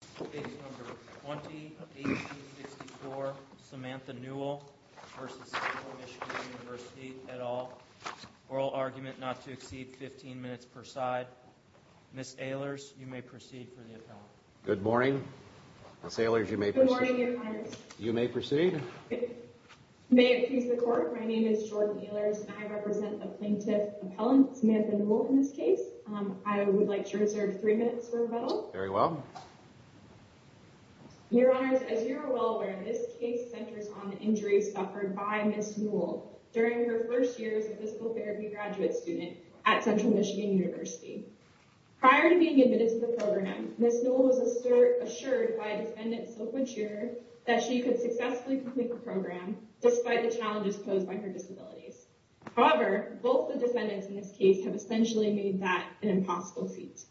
Case No. 20-18-64, Samantha Newell v. Central Michigan University et al. Oral argument not to exceed 15 minutes per side. Ms. Ehlers, you may proceed for the appellant. Good morning. Ms. Ehlers, you may proceed. Good morning, Your Honor. You may proceed. May it please the Court, my name is Jordan Ehlers and I represent the plaintiff appellant, Samantha Newell, in this case. I would like to reserve three minutes for rebuttal. Very well. Your Honors, as you are well aware, this case centers on the injuries suffered by Ms. Newell during her first year as a physical therapy graduate student at Central Michigan University. Prior to being admitted to the program, Ms. Newell was assured by a defendant so mature that she could successfully complete the program despite the challenges posed by her disabilities. However, both the defendants in this case have essentially made that an impossible feat.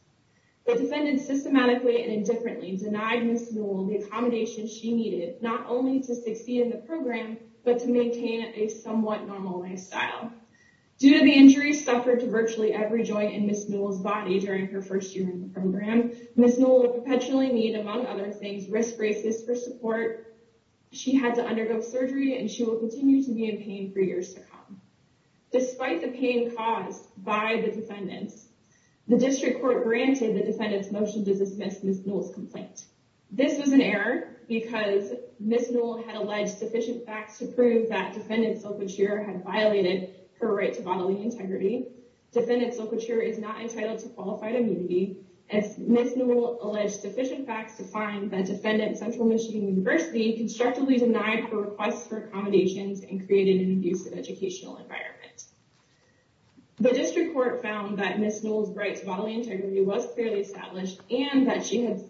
The defendants systematically and indifferently denied Ms. Newell the accommodation she needed not only to succeed in the program, but to maintain a somewhat normal lifestyle. Due to the injuries suffered to virtually every joint in Ms. Newell's body during her first year in the program, Ms. Newell would perpetually need, among other things, wrist braces for support. She had to undergo surgery and she will continue to be in pain for years to come. Despite the pain caused by the defendants, the district court granted the defendants motion to dismiss Ms. Newell's complaint. This was an error because Ms. Newell had alleged sufficient facts to prove that defendant so mature had violated her right to bodily integrity. Defendant so mature is not entitled to qualified immunity. Ms. Newell alleged sufficient facts to find that defendant Central Michigan University constructively denied her requests for accommodations and created an abusive educational environment. The district court found that Ms. Newell's rights bodily integrity was clearly established and that she had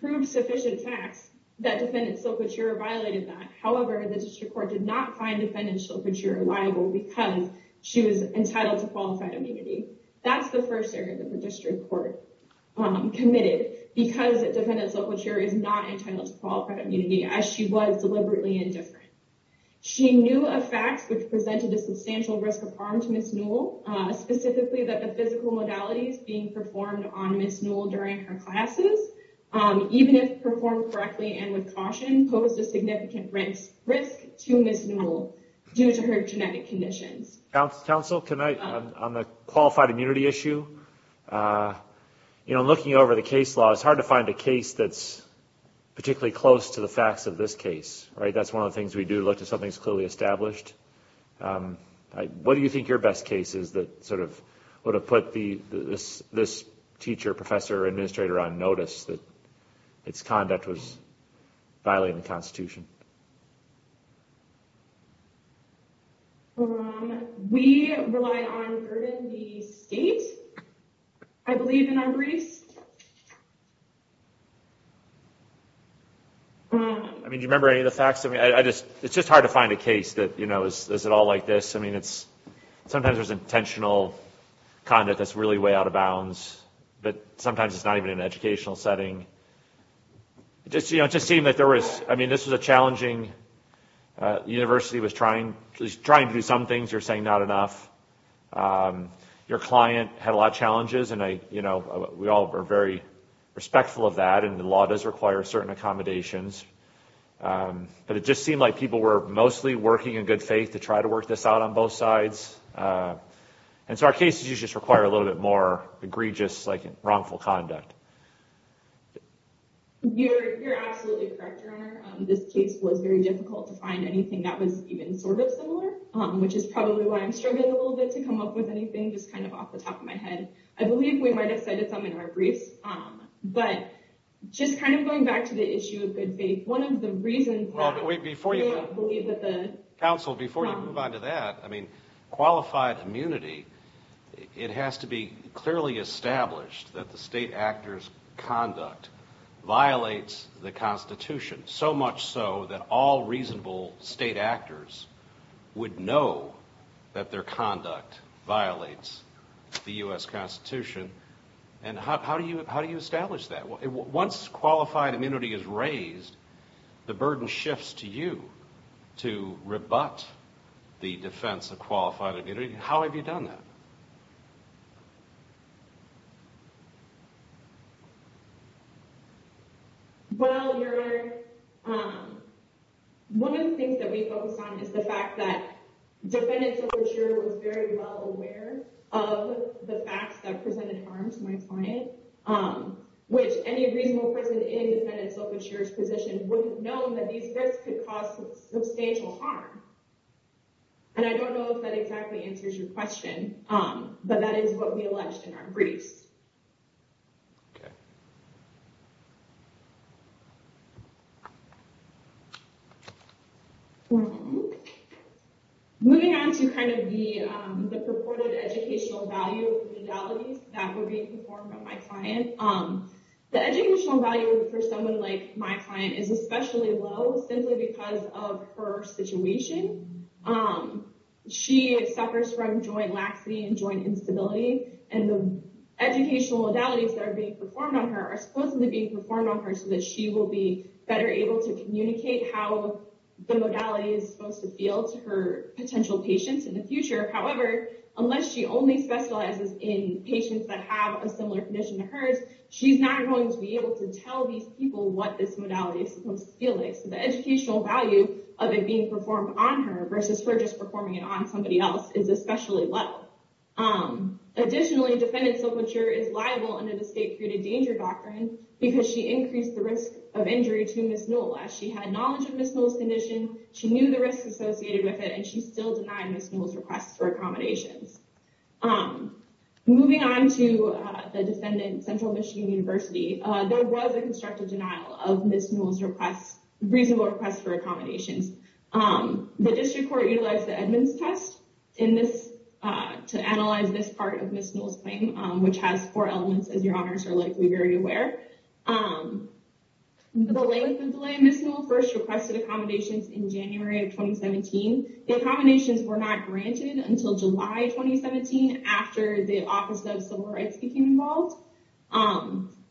proved sufficient facts that defendant so mature violated that. However, the district court did not find defendants so mature liable because she was entitled to qualified immunity. That's the first error that the district court committed because defendants so mature is not entitled to qualified immunity as she was deliberately indifferent. She knew of facts which presented a substantial risk of harm to Ms. Newell, specifically that the physical modalities being performed on Ms. Newell during her classes, even if performed correctly and with caution, posed a significant risk to Ms. Newell due to her genetic conditions. Council, can I, on the qualified immunity issue, you know, looking over the case law, it's hard to find a case that's particularly close to the facts of this case, right? That's one of the things we do, look to something that's clearly established. What do you think your best case is that sort of would have put this teacher, professor, administrator on notice that its conduct was violating the Constitution? We rely on Urban D. State, I believe, in our briefs. I mean, do you remember any of the facts? I mean, it's just hard to find a case that, you know, is it all like this? I mean, sometimes there's intentional conduct that's really way out of bounds, but sometimes it's not even in an educational setting. It just seemed that there was, I mean, this was a challenging, the university was trying to do some things, you're saying not enough. Your client had a lot of challenges, and I, you know, we all are very respectful of that, and the law does require certain accommodations. But it just seemed like people were mostly working in good faith to try to work this out on both sides. And so our cases just require a little bit more egregious, like, wrongful conduct. This case was very difficult to find anything that was even sort of similar, which is probably why I'm struggling a little bit to come up with anything, just kind of off the top of my head. I believe we might have cited some in our briefs. But just kind of going back to the issue of good faith, one of the reasons that we believe that the- Well, but wait, before you- Counsel, before you move on to that, I mean, qualified immunity, it has to be clearly established that the state actor's conduct violates the Constitution. So much so that all reasonable state actors would know that their conduct violates the U.S. Constitution. And how do you establish that? Once qualified immunity is raised, the burden shifts to you to rebut the defense of qualified immunity. How have you done that? Well, Your Honor, one of the things that we focus on is the fact that defendant's self-insurer was very well aware of the facts that presented harm to my client, which any reasonable person in defendant's self-insurer's position would have known that these risks could cause substantial harm. And I don't know if that exactly answers your question, but that is what we alleged in our briefs. Okay. Moving on to kind of the purported educational value of the legalities that were being performed on my client, the educational value for someone like my client is especially low simply because of her situation. She suffers from joint laxity and joint instability, and the educational modalities that are being performed on her are supposedly being performed on her so that she will be better able to communicate how the modality is supposed to feel to her potential patients in the future. However, unless she only specializes in patients that have a similar condition to hers, she's not going to be able to tell these people what this modality is supposed to feel like. So the educational value of it being performed on her versus her just performing it on somebody else is especially low. Additionally, defendant's self-insurer is liable under the state-created danger doctrine because she increased the risk of injury to Ms. Newell as she had knowledge of Ms. Newell's condition, she knew the risks associated with it, and she still denied Ms. Newell's request for accommodations. Moving on to the defendant, Central Michigan University, there was a constructive denial of Ms. Newell's reasonable request for accommodations. The district court utilized the Edmonds test to analyze this part of Ms. Newell's claim, which has four elements, as your honors are likely very aware. The length of delay Ms. Newell first requested accommodations in January of 2017. The accommodations were not granted until July 2017 after the Office of Civil Rights became involved.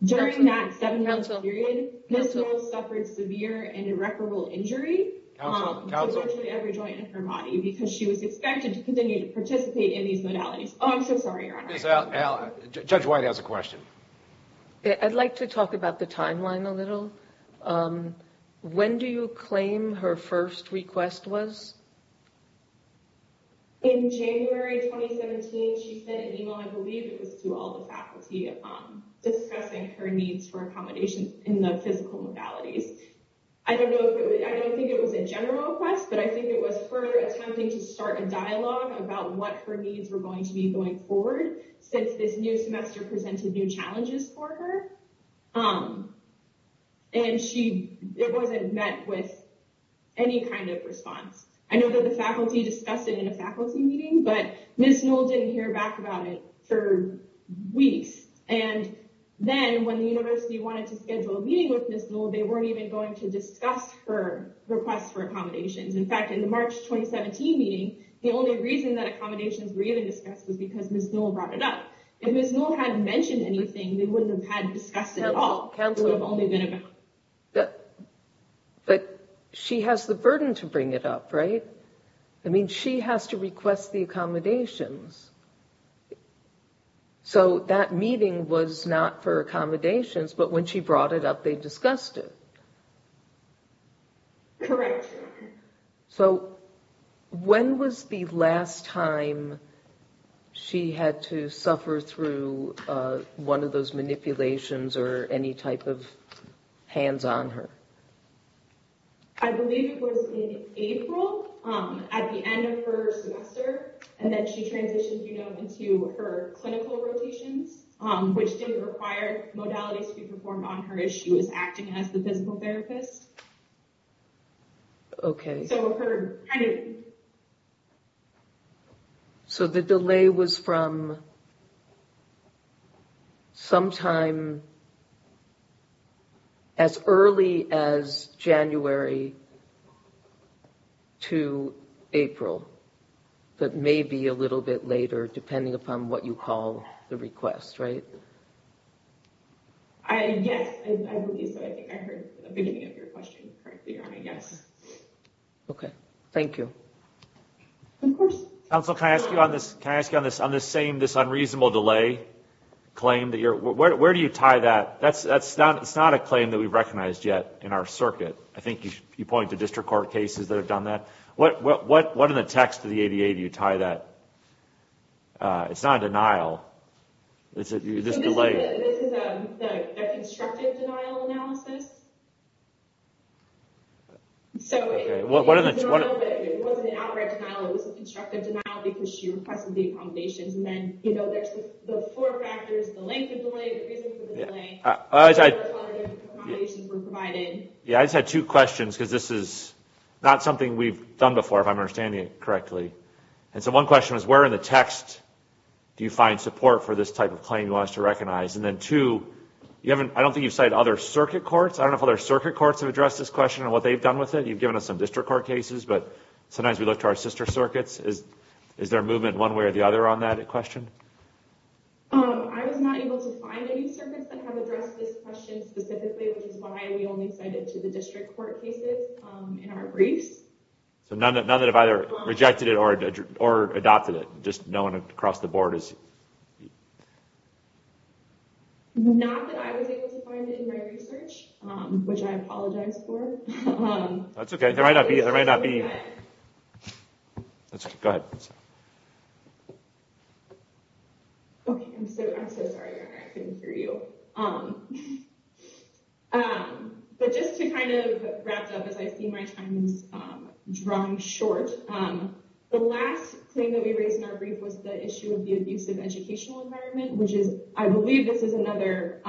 During that seven-month period, Ms. Newell suffered severe and irreparable injury to virtually every joint in her body because she was expected to continue to participate in these modalities. Judge White has a question. I'd like to talk about the timeline a little. When do you claim her first request was? In January 2017, she sent an email, I believe it was to all the faculty, discussing her needs for accommodations in the physical modalities. I don't think it was a general request, but I think it was her attempting to start a dialogue about what her needs were going to be going forward since this new semester presented new challenges for her. It wasn't met with any kind of response. I know that the faculty discussed it in a faculty meeting, but Ms. Newell didn't hear back about it for weeks. And then when the university wanted to schedule a meeting with Ms. Newell, they weren't even going to discuss her request for accommodations. In fact, in the March 2017 meeting, the only reason that accommodations were even discussed was because Ms. Newell brought it up. If Ms. Newell hadn't mentioned anything, they wouldn't have had discussed it at all. But she has the burden to bring it up, right? I mean, she has to request the accommodations. So that meeting was not for accommodations, but when she brought it up, they discussed it. Correct. So when was the last time she had to suffer through one of those manipulations or any type of hands on her? I believe it was in April, at the end of her semester. And then she transitioned into her clinical rotations, which didn't require modalities to be performed on her as she was acting as the physical therapist. Okay. So the delay was from sometime as early as January to April, but maybe a little bit later, depending upon what you call the request, right? Yes, I believe so. I think I heard the beginning of your question correctly. Okay, thank you. Counsel, can I ask you on this same unreasonable delay claim? Where do you tie that? It's not a claim that we've recognized yet in our circuit. I think you point to district court cases that have done that. What in the text of the ADA do you tie that? It's not a denial. This is a constructive denial analysis. It wasn't an outright denial, it was a constructive denial because she requested the accommodations. And then there's the four factors, the length of delay, the reason for the delay, how the accommodations were provided. Yeah, I just had two questions because this is not something we've done before, if I'm understanding it correctly. And so one question was, where in the text do you find support for this type of claim you want us to recognize? And then two, I don't think you've cited other circuit courts. I don't know if other circuit courts have addressed this question and what they've done with it. You've given us some district court cases, but sometimes we look to our sister circuits. Is there a movement one way or the other on that question? I was not able to find any circuits that have addressed this question specifically, which is why we only cited to the district court cases in our briefs. So none that have either rejected it or adopted it. Just no one across the board has... Not that I was able to find it in my research, which I apologize for. That's okay. There might not be... Go ahead. Okay, I'm so sorry. I couldn't hear you. But just to kind of wrap up, as I see my time is drawing short. The last thing that we raised in our brief was the issue of the abusive educational environment, which is... I believe this is another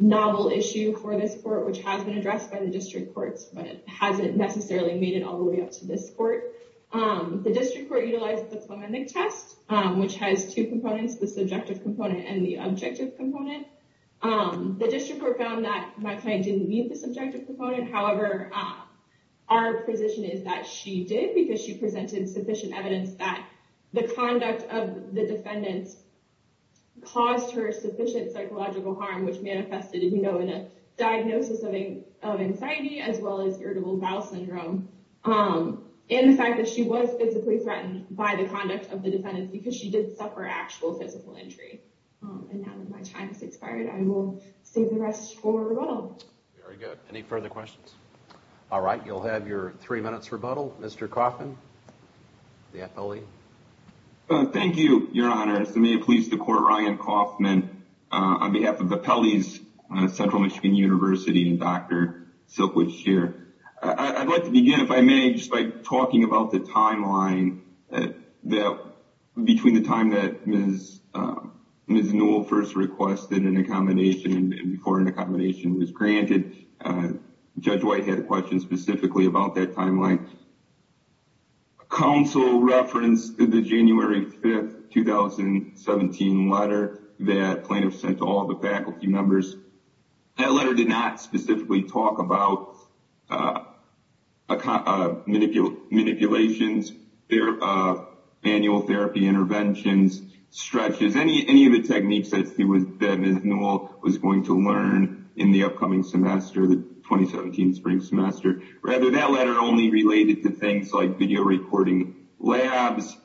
novel issue for this court, which has been addressed by the district courts, but hasn't necessarily made it all the way up to this court. The district court utilized the phonemic test, which has two components, the subjective component and the objective component. The district court found that my client didn't meet the subjective component. However, our position is that she did because she presented sufficient evidence that the conduct of the defendants caused her sufficient psychological harm, which manifested in a diagnosis of anxiety, as well as irritable bowel syndrome. And the fact that she was physically threatened by the conduct of the defendants because she did suffer actual physical injury. And now that my time has expired, I will save the rest for rebuttal. Very good. Any further questions? All right, you'll have your three minutes rebuttal. Mr. Coffman, the appellee. Thank you, Your Honor. May it please the court, Ryan Coffman, on behalf of the appellees, Central Michigan University and Dr. Silkwood Shear. I'd like to begin, if I may, just by talking about the timeline. Between the time that Ms. Newell first requested an accommodation and before an accommodation was granted, Judge White had a question specifically about that timeline. Counsel referenced the January 5, 2017 letter that plaintiffs sent to all the faculty members. That letter did not specifically talk about manipulations, annual therapy interventions, stretches, any of the techniques that Ms. Newell was going to learn in the upcoming semester, the 2017 spring semester. Rather, that letter only related to things like video recording labs.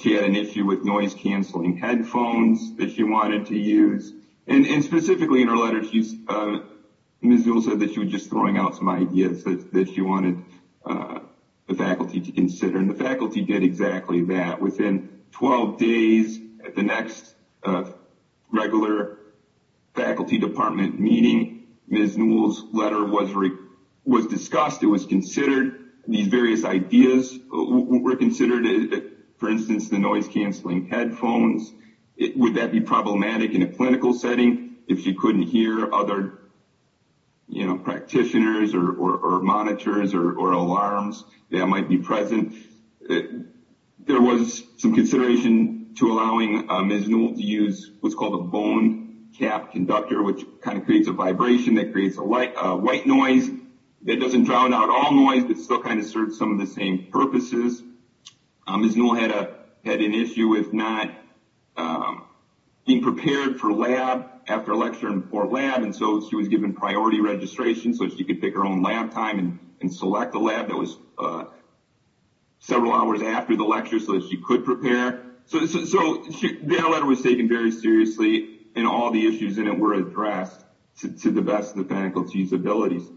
She had an issue with noise-canceling headphones that she wanted to use. And specifically in her letter, Ms. Newell said that she was just throwing out some ideas that she wanted the faculty to consider. And the faculty did exactly that. Within 12 days at the next regular faculty department meeting, Ms. Newell's letter was discussed. It was considered. These various ideas were considered. For instance, the noise-canceling headphones. Would that be problematic in a clinical setting if she couldn't hear other practitioners or monitors or alarms that might be present? There was some consideration to allowing Ms. Newell to use what's called a bone cap conductor, which kind of creates a vibration that creates a white noise. It doesn't drown out all noise, but still kind of serves some of the same purposes. Ms. Newell had an issue with not being prepared for lab after lecture in Fort Lab. And so she was given priority registration so she could pick her own lab time and select a lab that was several hours after the lecture so that she could prepare. So that letter was taken very seriously, and all the issues in it were addressed to the best of the faculty's abilities.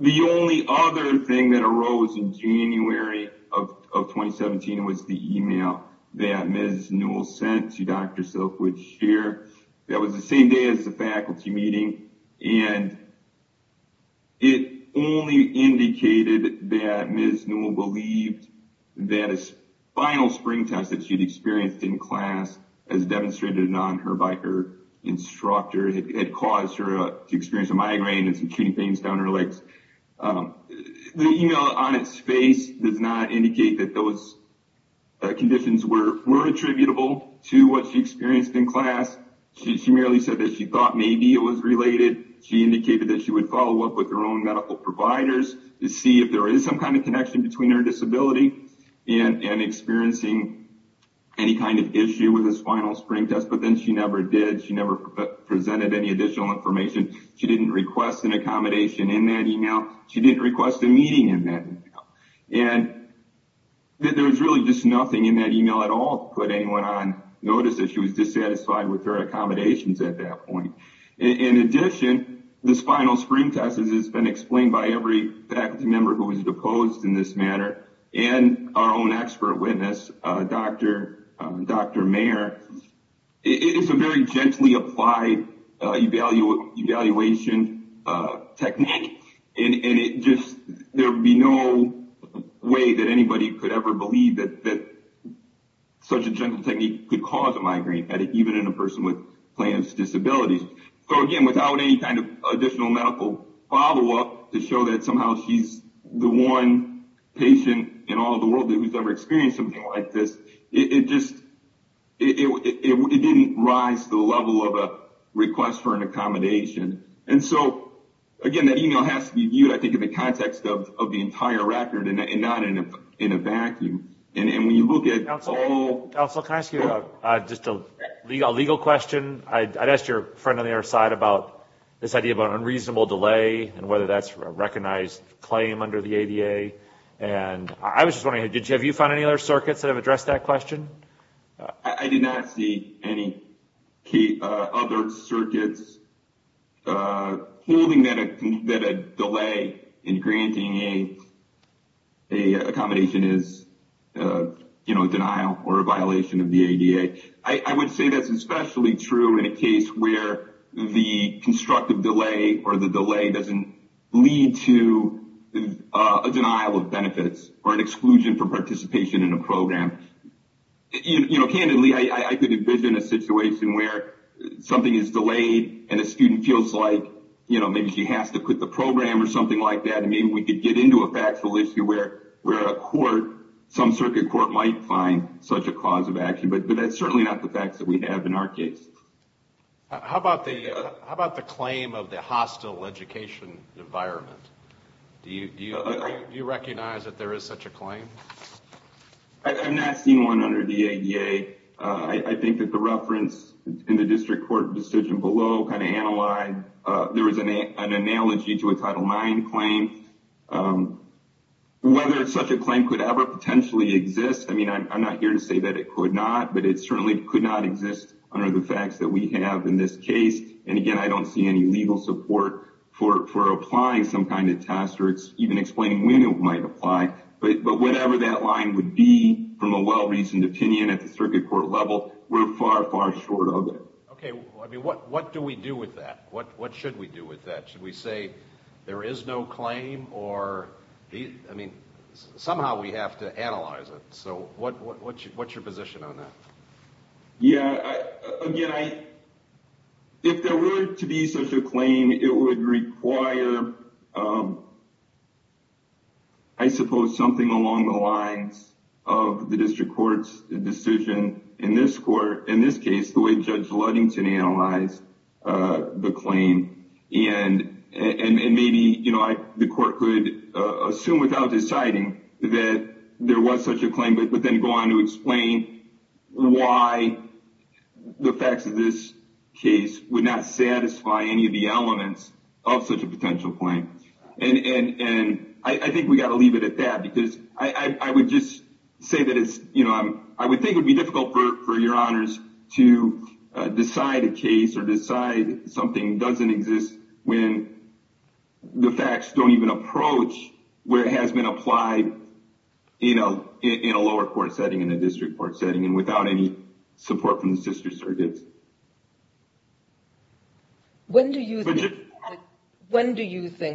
The only other thing that arose in January of 2017 was the email that Ms. Newell sent to Dr. Silkwood Shear. That was the same day as the faculty meeting. And it only indicated that Ms. Newell believed that a final spring test that she'd experienced in class, as demonstrated on her by her instructor, had caused her to experience a migraine and some aching pains down her legs. The email on its face does not indicate that those conditions were attributable to what she experienced in class. She merely said that she thought maybe it was related. She indicated that she would follow up with her own medical providers to see if there is some kind of connection between her disability and experiencing any kind of issue with this final spring test. But then she never did. She never presented any additional information. She didn't request an accommodation in that email. She didn't request a meeting in that email. And there was really just nothing in that email at all to put anyone on notice that she was dissatisfied with her accommodations at that point. In addition, this final spring test, as has been explained by every faculty member who was deposed in this manner, and our own expert witness, Dr. Mayer, is a very gently applied evaluation technique. There would be no way that anybody could ever believe that such a gentle technique could cause a migraine headache, even in a person with Plano's disability. So again, without any kind of additional medical follow-up to show that somehow she's the one patient in all the world who's ever experienced something like this, it didn't rise to the level of a request for an accommodation. And so, again, that email has to be viewed, I think, in the context of the entire record and not in a vacuum. And when you look at all... Counsel, can I ask you just a legal question? I'd asked your friend on the other side about this idea of an unreasonable delay and whether that's a recognized claim under the ADA. And I was just wondering, have you found any other circuits that have addressed that question? I did not see any other circuits holding that a delay in granting an accommodation is a denial or a violation of the ADA. I would say that's especially true in a case where the constructive delay or the delay doesn't lead to a denial of benefits or an exclusion for participation in a program. You know, candidly, I could envision a situation where something is delayed and a student feels like, you know, maybe she has to quit the program or something like that. I mean, we could get into a factual issue where a court, some circuit court, might find such a cause of action. But that's certainly not the facts that we have in our case. How about the claim of the hostile education environment? I'm not seeing one under the ADA. I think that the reference in the district court decision below kind of analyzed, there was an analogy to a Title IX claim. Whether such a claim could ever potentially exist, I mean, I'm not here to say that it could not. But it certainly could not exist under the facts that we have in this case. And again, I don't see any legal support for applying some kind of test or even explaining when it might apply. Whatever that line would be, from a well-reasoned opinion at the circuit court level, we're far, far short of it. Okay. I mean, what do we do with that? What should we do with that? Should we say there is no claim or, I mean, somehow we have to analyze it. So what's your position on that? Yeah. Again, if there were to be such a claim, it would require, I suppose, something along the lines of the district court's decision in this court. In this case, the way Judge Ludington analyzed the claim. And maybe the court could assume without deciding that there was such a claim, but then go on to explain why the facts of this case would not satisfy any of the elements of such a potential claim. And I think we've got to leave it at that because I would just say that it's, you know, I would think it would be difficult for your honors to decide a case or decide something doesn't exist when the facts don't even approach where it has been applied, you know, in a lower court setting, in a district court setting, and without any support from the sister circuits. When do you think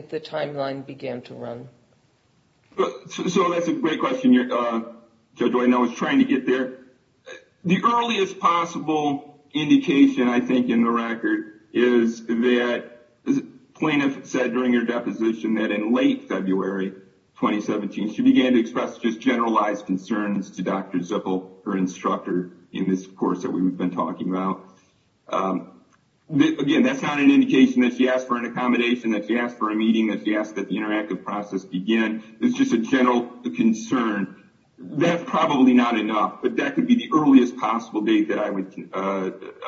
the timeline began to run? So that's a great question, Judge Widenow. I was trying to get there. The earliest possible indication, I think, in the record is that the plaintiff said during her deposition that in late February 2017, she began to express just generalized concerns to Dr. Zippel, her instructor in this course that we've been talking about. Again, that's not an indication that she asked for an accommodation, that she asked for a meeting, that she asked that the interactive process begin. It's just a general concern. That's probably not enough, but that could be the earliest possible date that I would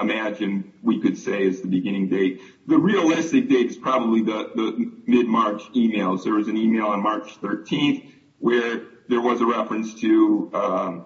imagine we could say is the beginning date. The realistic date is probably the mid-March email. There was an email on March 13th where there was a reference to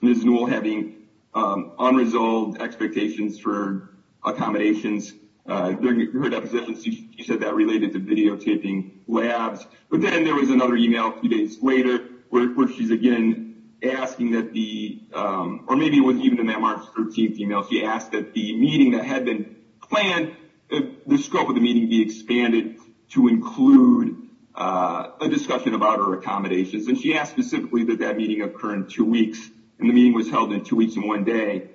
Ms. Newell having unresolved expectations for accommodations. During her deposition, she said that related to videotaping labs. But then there was another email a few days later where she's again asking that the, or maybe it wasn't even in that March 13th email, she asked that the meeting that had been planned, the scope of the meeting be expanded to include a discussion about her accommodations. And she asked specifically that that meeting occur in two weeks, and the meeting was held in two weeks and one day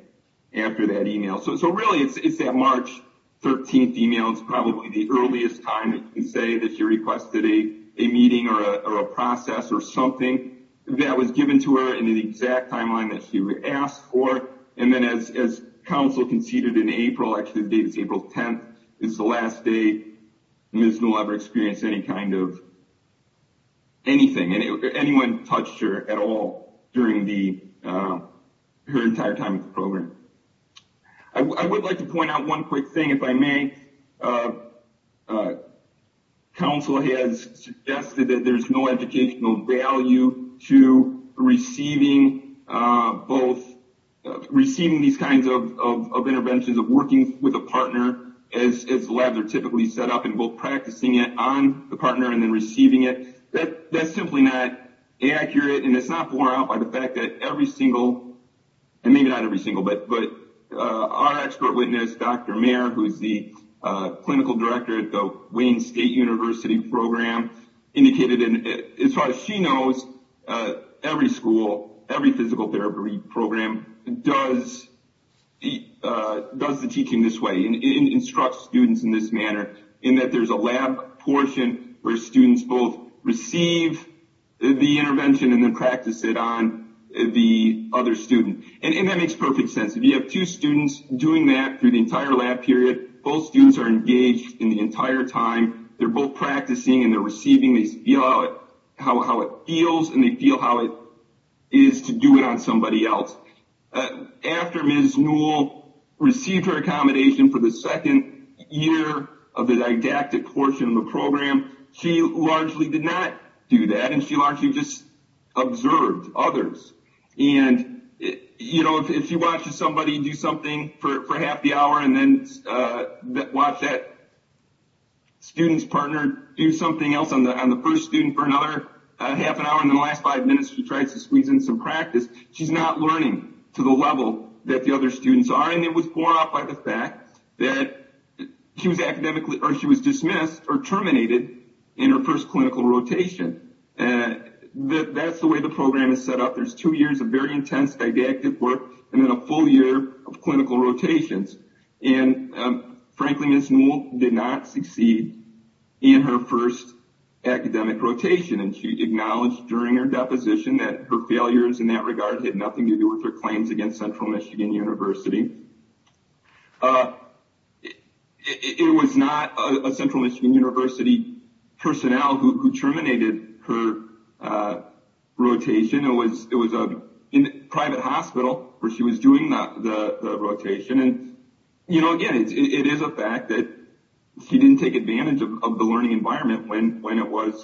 after that email. So really, it's that March 13th email. It's probably the earliest time we can say that she requested a meeting or a process or something that was given to her in the exact timeline that she asked for. And then as Council conceded in April, actually the date is April 10th, is the last day Ms. Newell ever experienced any kind of anything, anyone touched her at all during her entire time in the program. I would like to point out one quick thing if I may. Council has suggested that there's no educational value to receiving both, receiving these kinds of interventions of working with a partner as labs are typically set up and both practicing it on the partner and then receiving it. That's simply not accurate, and it's not borne out by the fact that every single, and maybe not every single, but our expert witness, Dr. Mayer, who's the clinical director at the Wayne State University program, indicated, as far as she knows, every school, every physical therapy program does the teaching this way, instructs students in this manner, in that there's a lab portion where students both receive the intervention and then practice it on the other student. And that makes perfect sense. If you have two students doing that through the entire lab period, both students are engaged in the entire time. They're both practicing and they're receiving. They feel how it feels, and they feel how it is to do it on somebody else. After Ms. Newell received her accommodation for the second year of the didactic portion of the program, she largely did not do that, and she largely just observed others. And if you watch somebody do something for half the hour and then watch that student's partner do something else on the first student for another half an hour, and then the last five minutes she tries to squeeze in some practice, she's not learning to the level that the other students are. And it was borne out by the fact that she was dismissed or terminated in her first clinical rotation. That's the way the program is set up. There's two years of very intense didactic work and then a full year of clinical rotations. And frankly, Ms. Newell did not succeed in her first academic rotation, and she acknowledged during her deposition that her failures in that regard had nothing to do with her claims against Central Michigan University. It was not a Central Michigan University personnel who terminated her rotation. It was a private hospital where she was doing the rotation. And, you know, again, it is a fact that she didn't take advantage of the learning environment when it was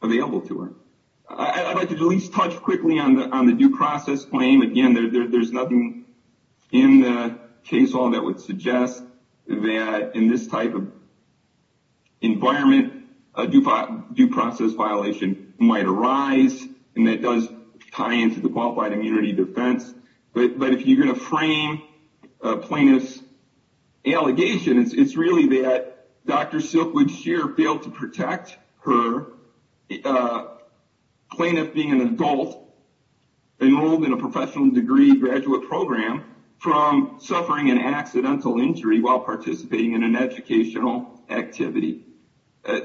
available to her. I'd like to at least touch quickly on the due process claim. Again, there's nothing in the case law that would suggest that in this type of environment a due process violation might arise, and that does tie into the qualified immunity defense. But if you're going to frame a plaintiff's allegations, it's really that Dr. Silkwood Scheer failed to protect her plaintiff being an adult enrolled in a professional degree graduate program from suffering an accidental injury while participating in an educational activity.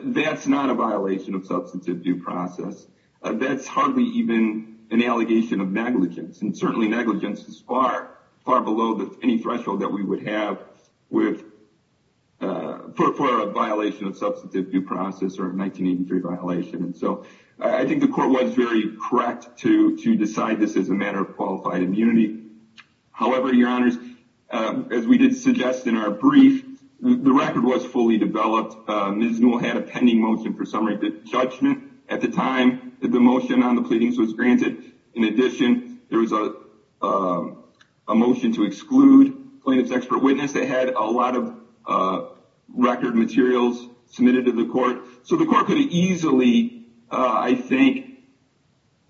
That's not a violation of substantive due process. That's hardly even an allegation of negligence, and certainly negligence is far, far below any threshold that we would have for a violation of substantive due process or a 1983 violation. So I think the court was very correct to decide this as a matter of qualified immunity. However, Your Honors, as we did suggest in our brief, the record was fully developed. Ms. Newell had a pending motion for summary judgment at the time that the motion on the pleadings was granted. In addition, there was a motion to exclude plaintiff's expert witness that had a lot of record materials submitted to the court. So the court could have easily, I think,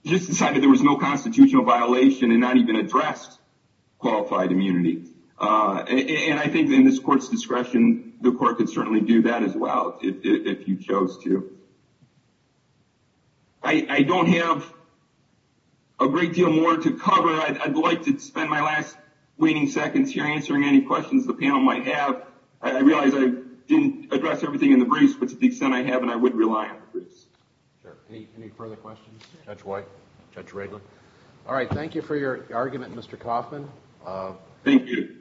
just decided there was no constitutional violation and not even addressed qualified immunity. And I think in this court's discretion, the court could certainly do that as well if you chose to. I don't have a great deal more to cover. I'd like to spend my last waning seconds here answering any questions the panel might have. I realize I didn't address everything in the briefs, but to the extent I have, I would rely on the briefs. Sure. Any further questions? Judge White? Judge Wrigley? All right. Thank you for your argument, Mr. Coffman. Thank you.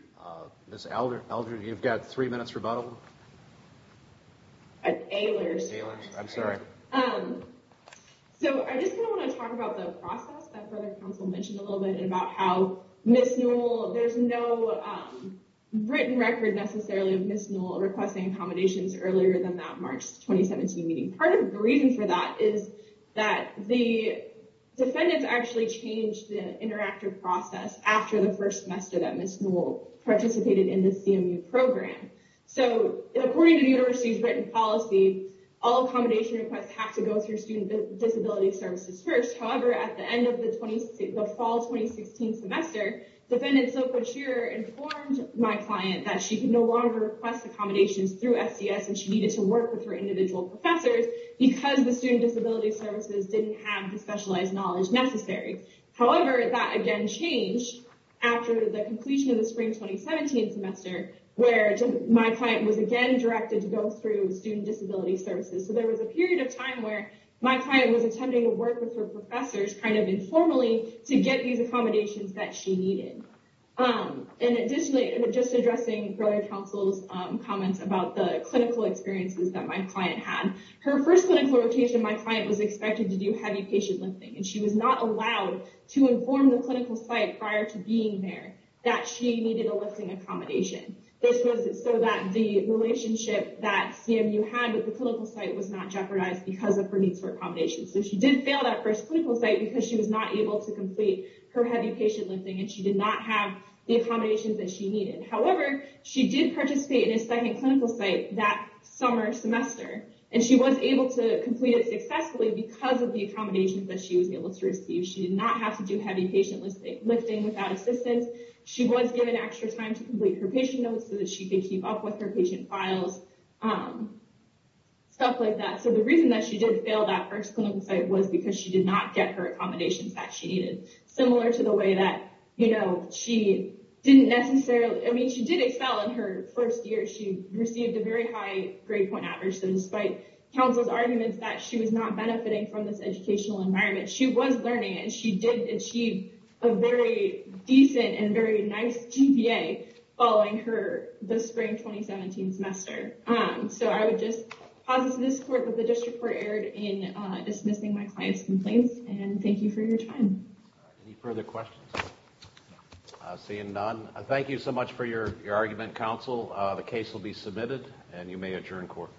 Ms. Eldridge, you've got three minutes rebuttal. Ailers. Ailers, I'm sorry. So I just kind of want to talk about the process that Brother Counsel mentioned a little bit and about how Ms. Newell, there's no written record necessarily of Ms. Newell requesting accommodations earlier than that March 2017 meeting. Part of the reason for that is that the defendants actually changed the interactive process after the first semester that Ms. Newell participated in the CMU program. So according to the university's written policy, all accommodation requests have to go through Student Disability Services first. However, at the end of the fall 2016 semester, Defendant Soko Chirer informed my client that she could no longer request accommodations through SDS and she needed to work with her individual professors because the Student Disability Services didn't have the specialized knowledge necessary. However, that again changed after the completion of the spring 2017 semester where my client was again directed to go through Student Disability Services. So there was a period of time where my client was attempting to work with her professors kind of informally to get these accommodations that she needed. And additionally, just addressing Brother Counsel's comments about the clinical experiences that my client had. Her first clinical rotation, my client was expected to do heavy patient lifting and she was not allowed to inform the clinical site prior to being there that she needed a lifting accommodation. This was so that the relationship that CMU had with the clinical site was not jeopardized because of her needs for accommodations. So she did fail that first clinical site because she was not able to complete her heavy patient lifting and she did not have the accommodations that she needed. However, she did participate in a second clinical site that summer semester and she was able to complete it successfully because of the accommodations that she was able to receive. She did not have to do heavy patient lifting without assistance. She was given extra time to complete her patient notes so that she could keep up with her patient files. Stuff like that. So the reason that she didn't fail that first clinical site was because she did not get her accommodations that she needed. Similar to the way that, you know, she didn't necessarily, I mean, she did excel in her first year. She received a very high grade point average. So despite counsel's arguments that she was not benefiting from this educational environment, she was learning and she did achieve a very decent and very nice GPA following the spring 2017 semester. So I would just posit to this court that the district court erred in dismissing my client's complaints and thank you for your time. Any further questions? Seeing none, thank you so much for your argument counsel. The case will be submitted and you may adjourn court.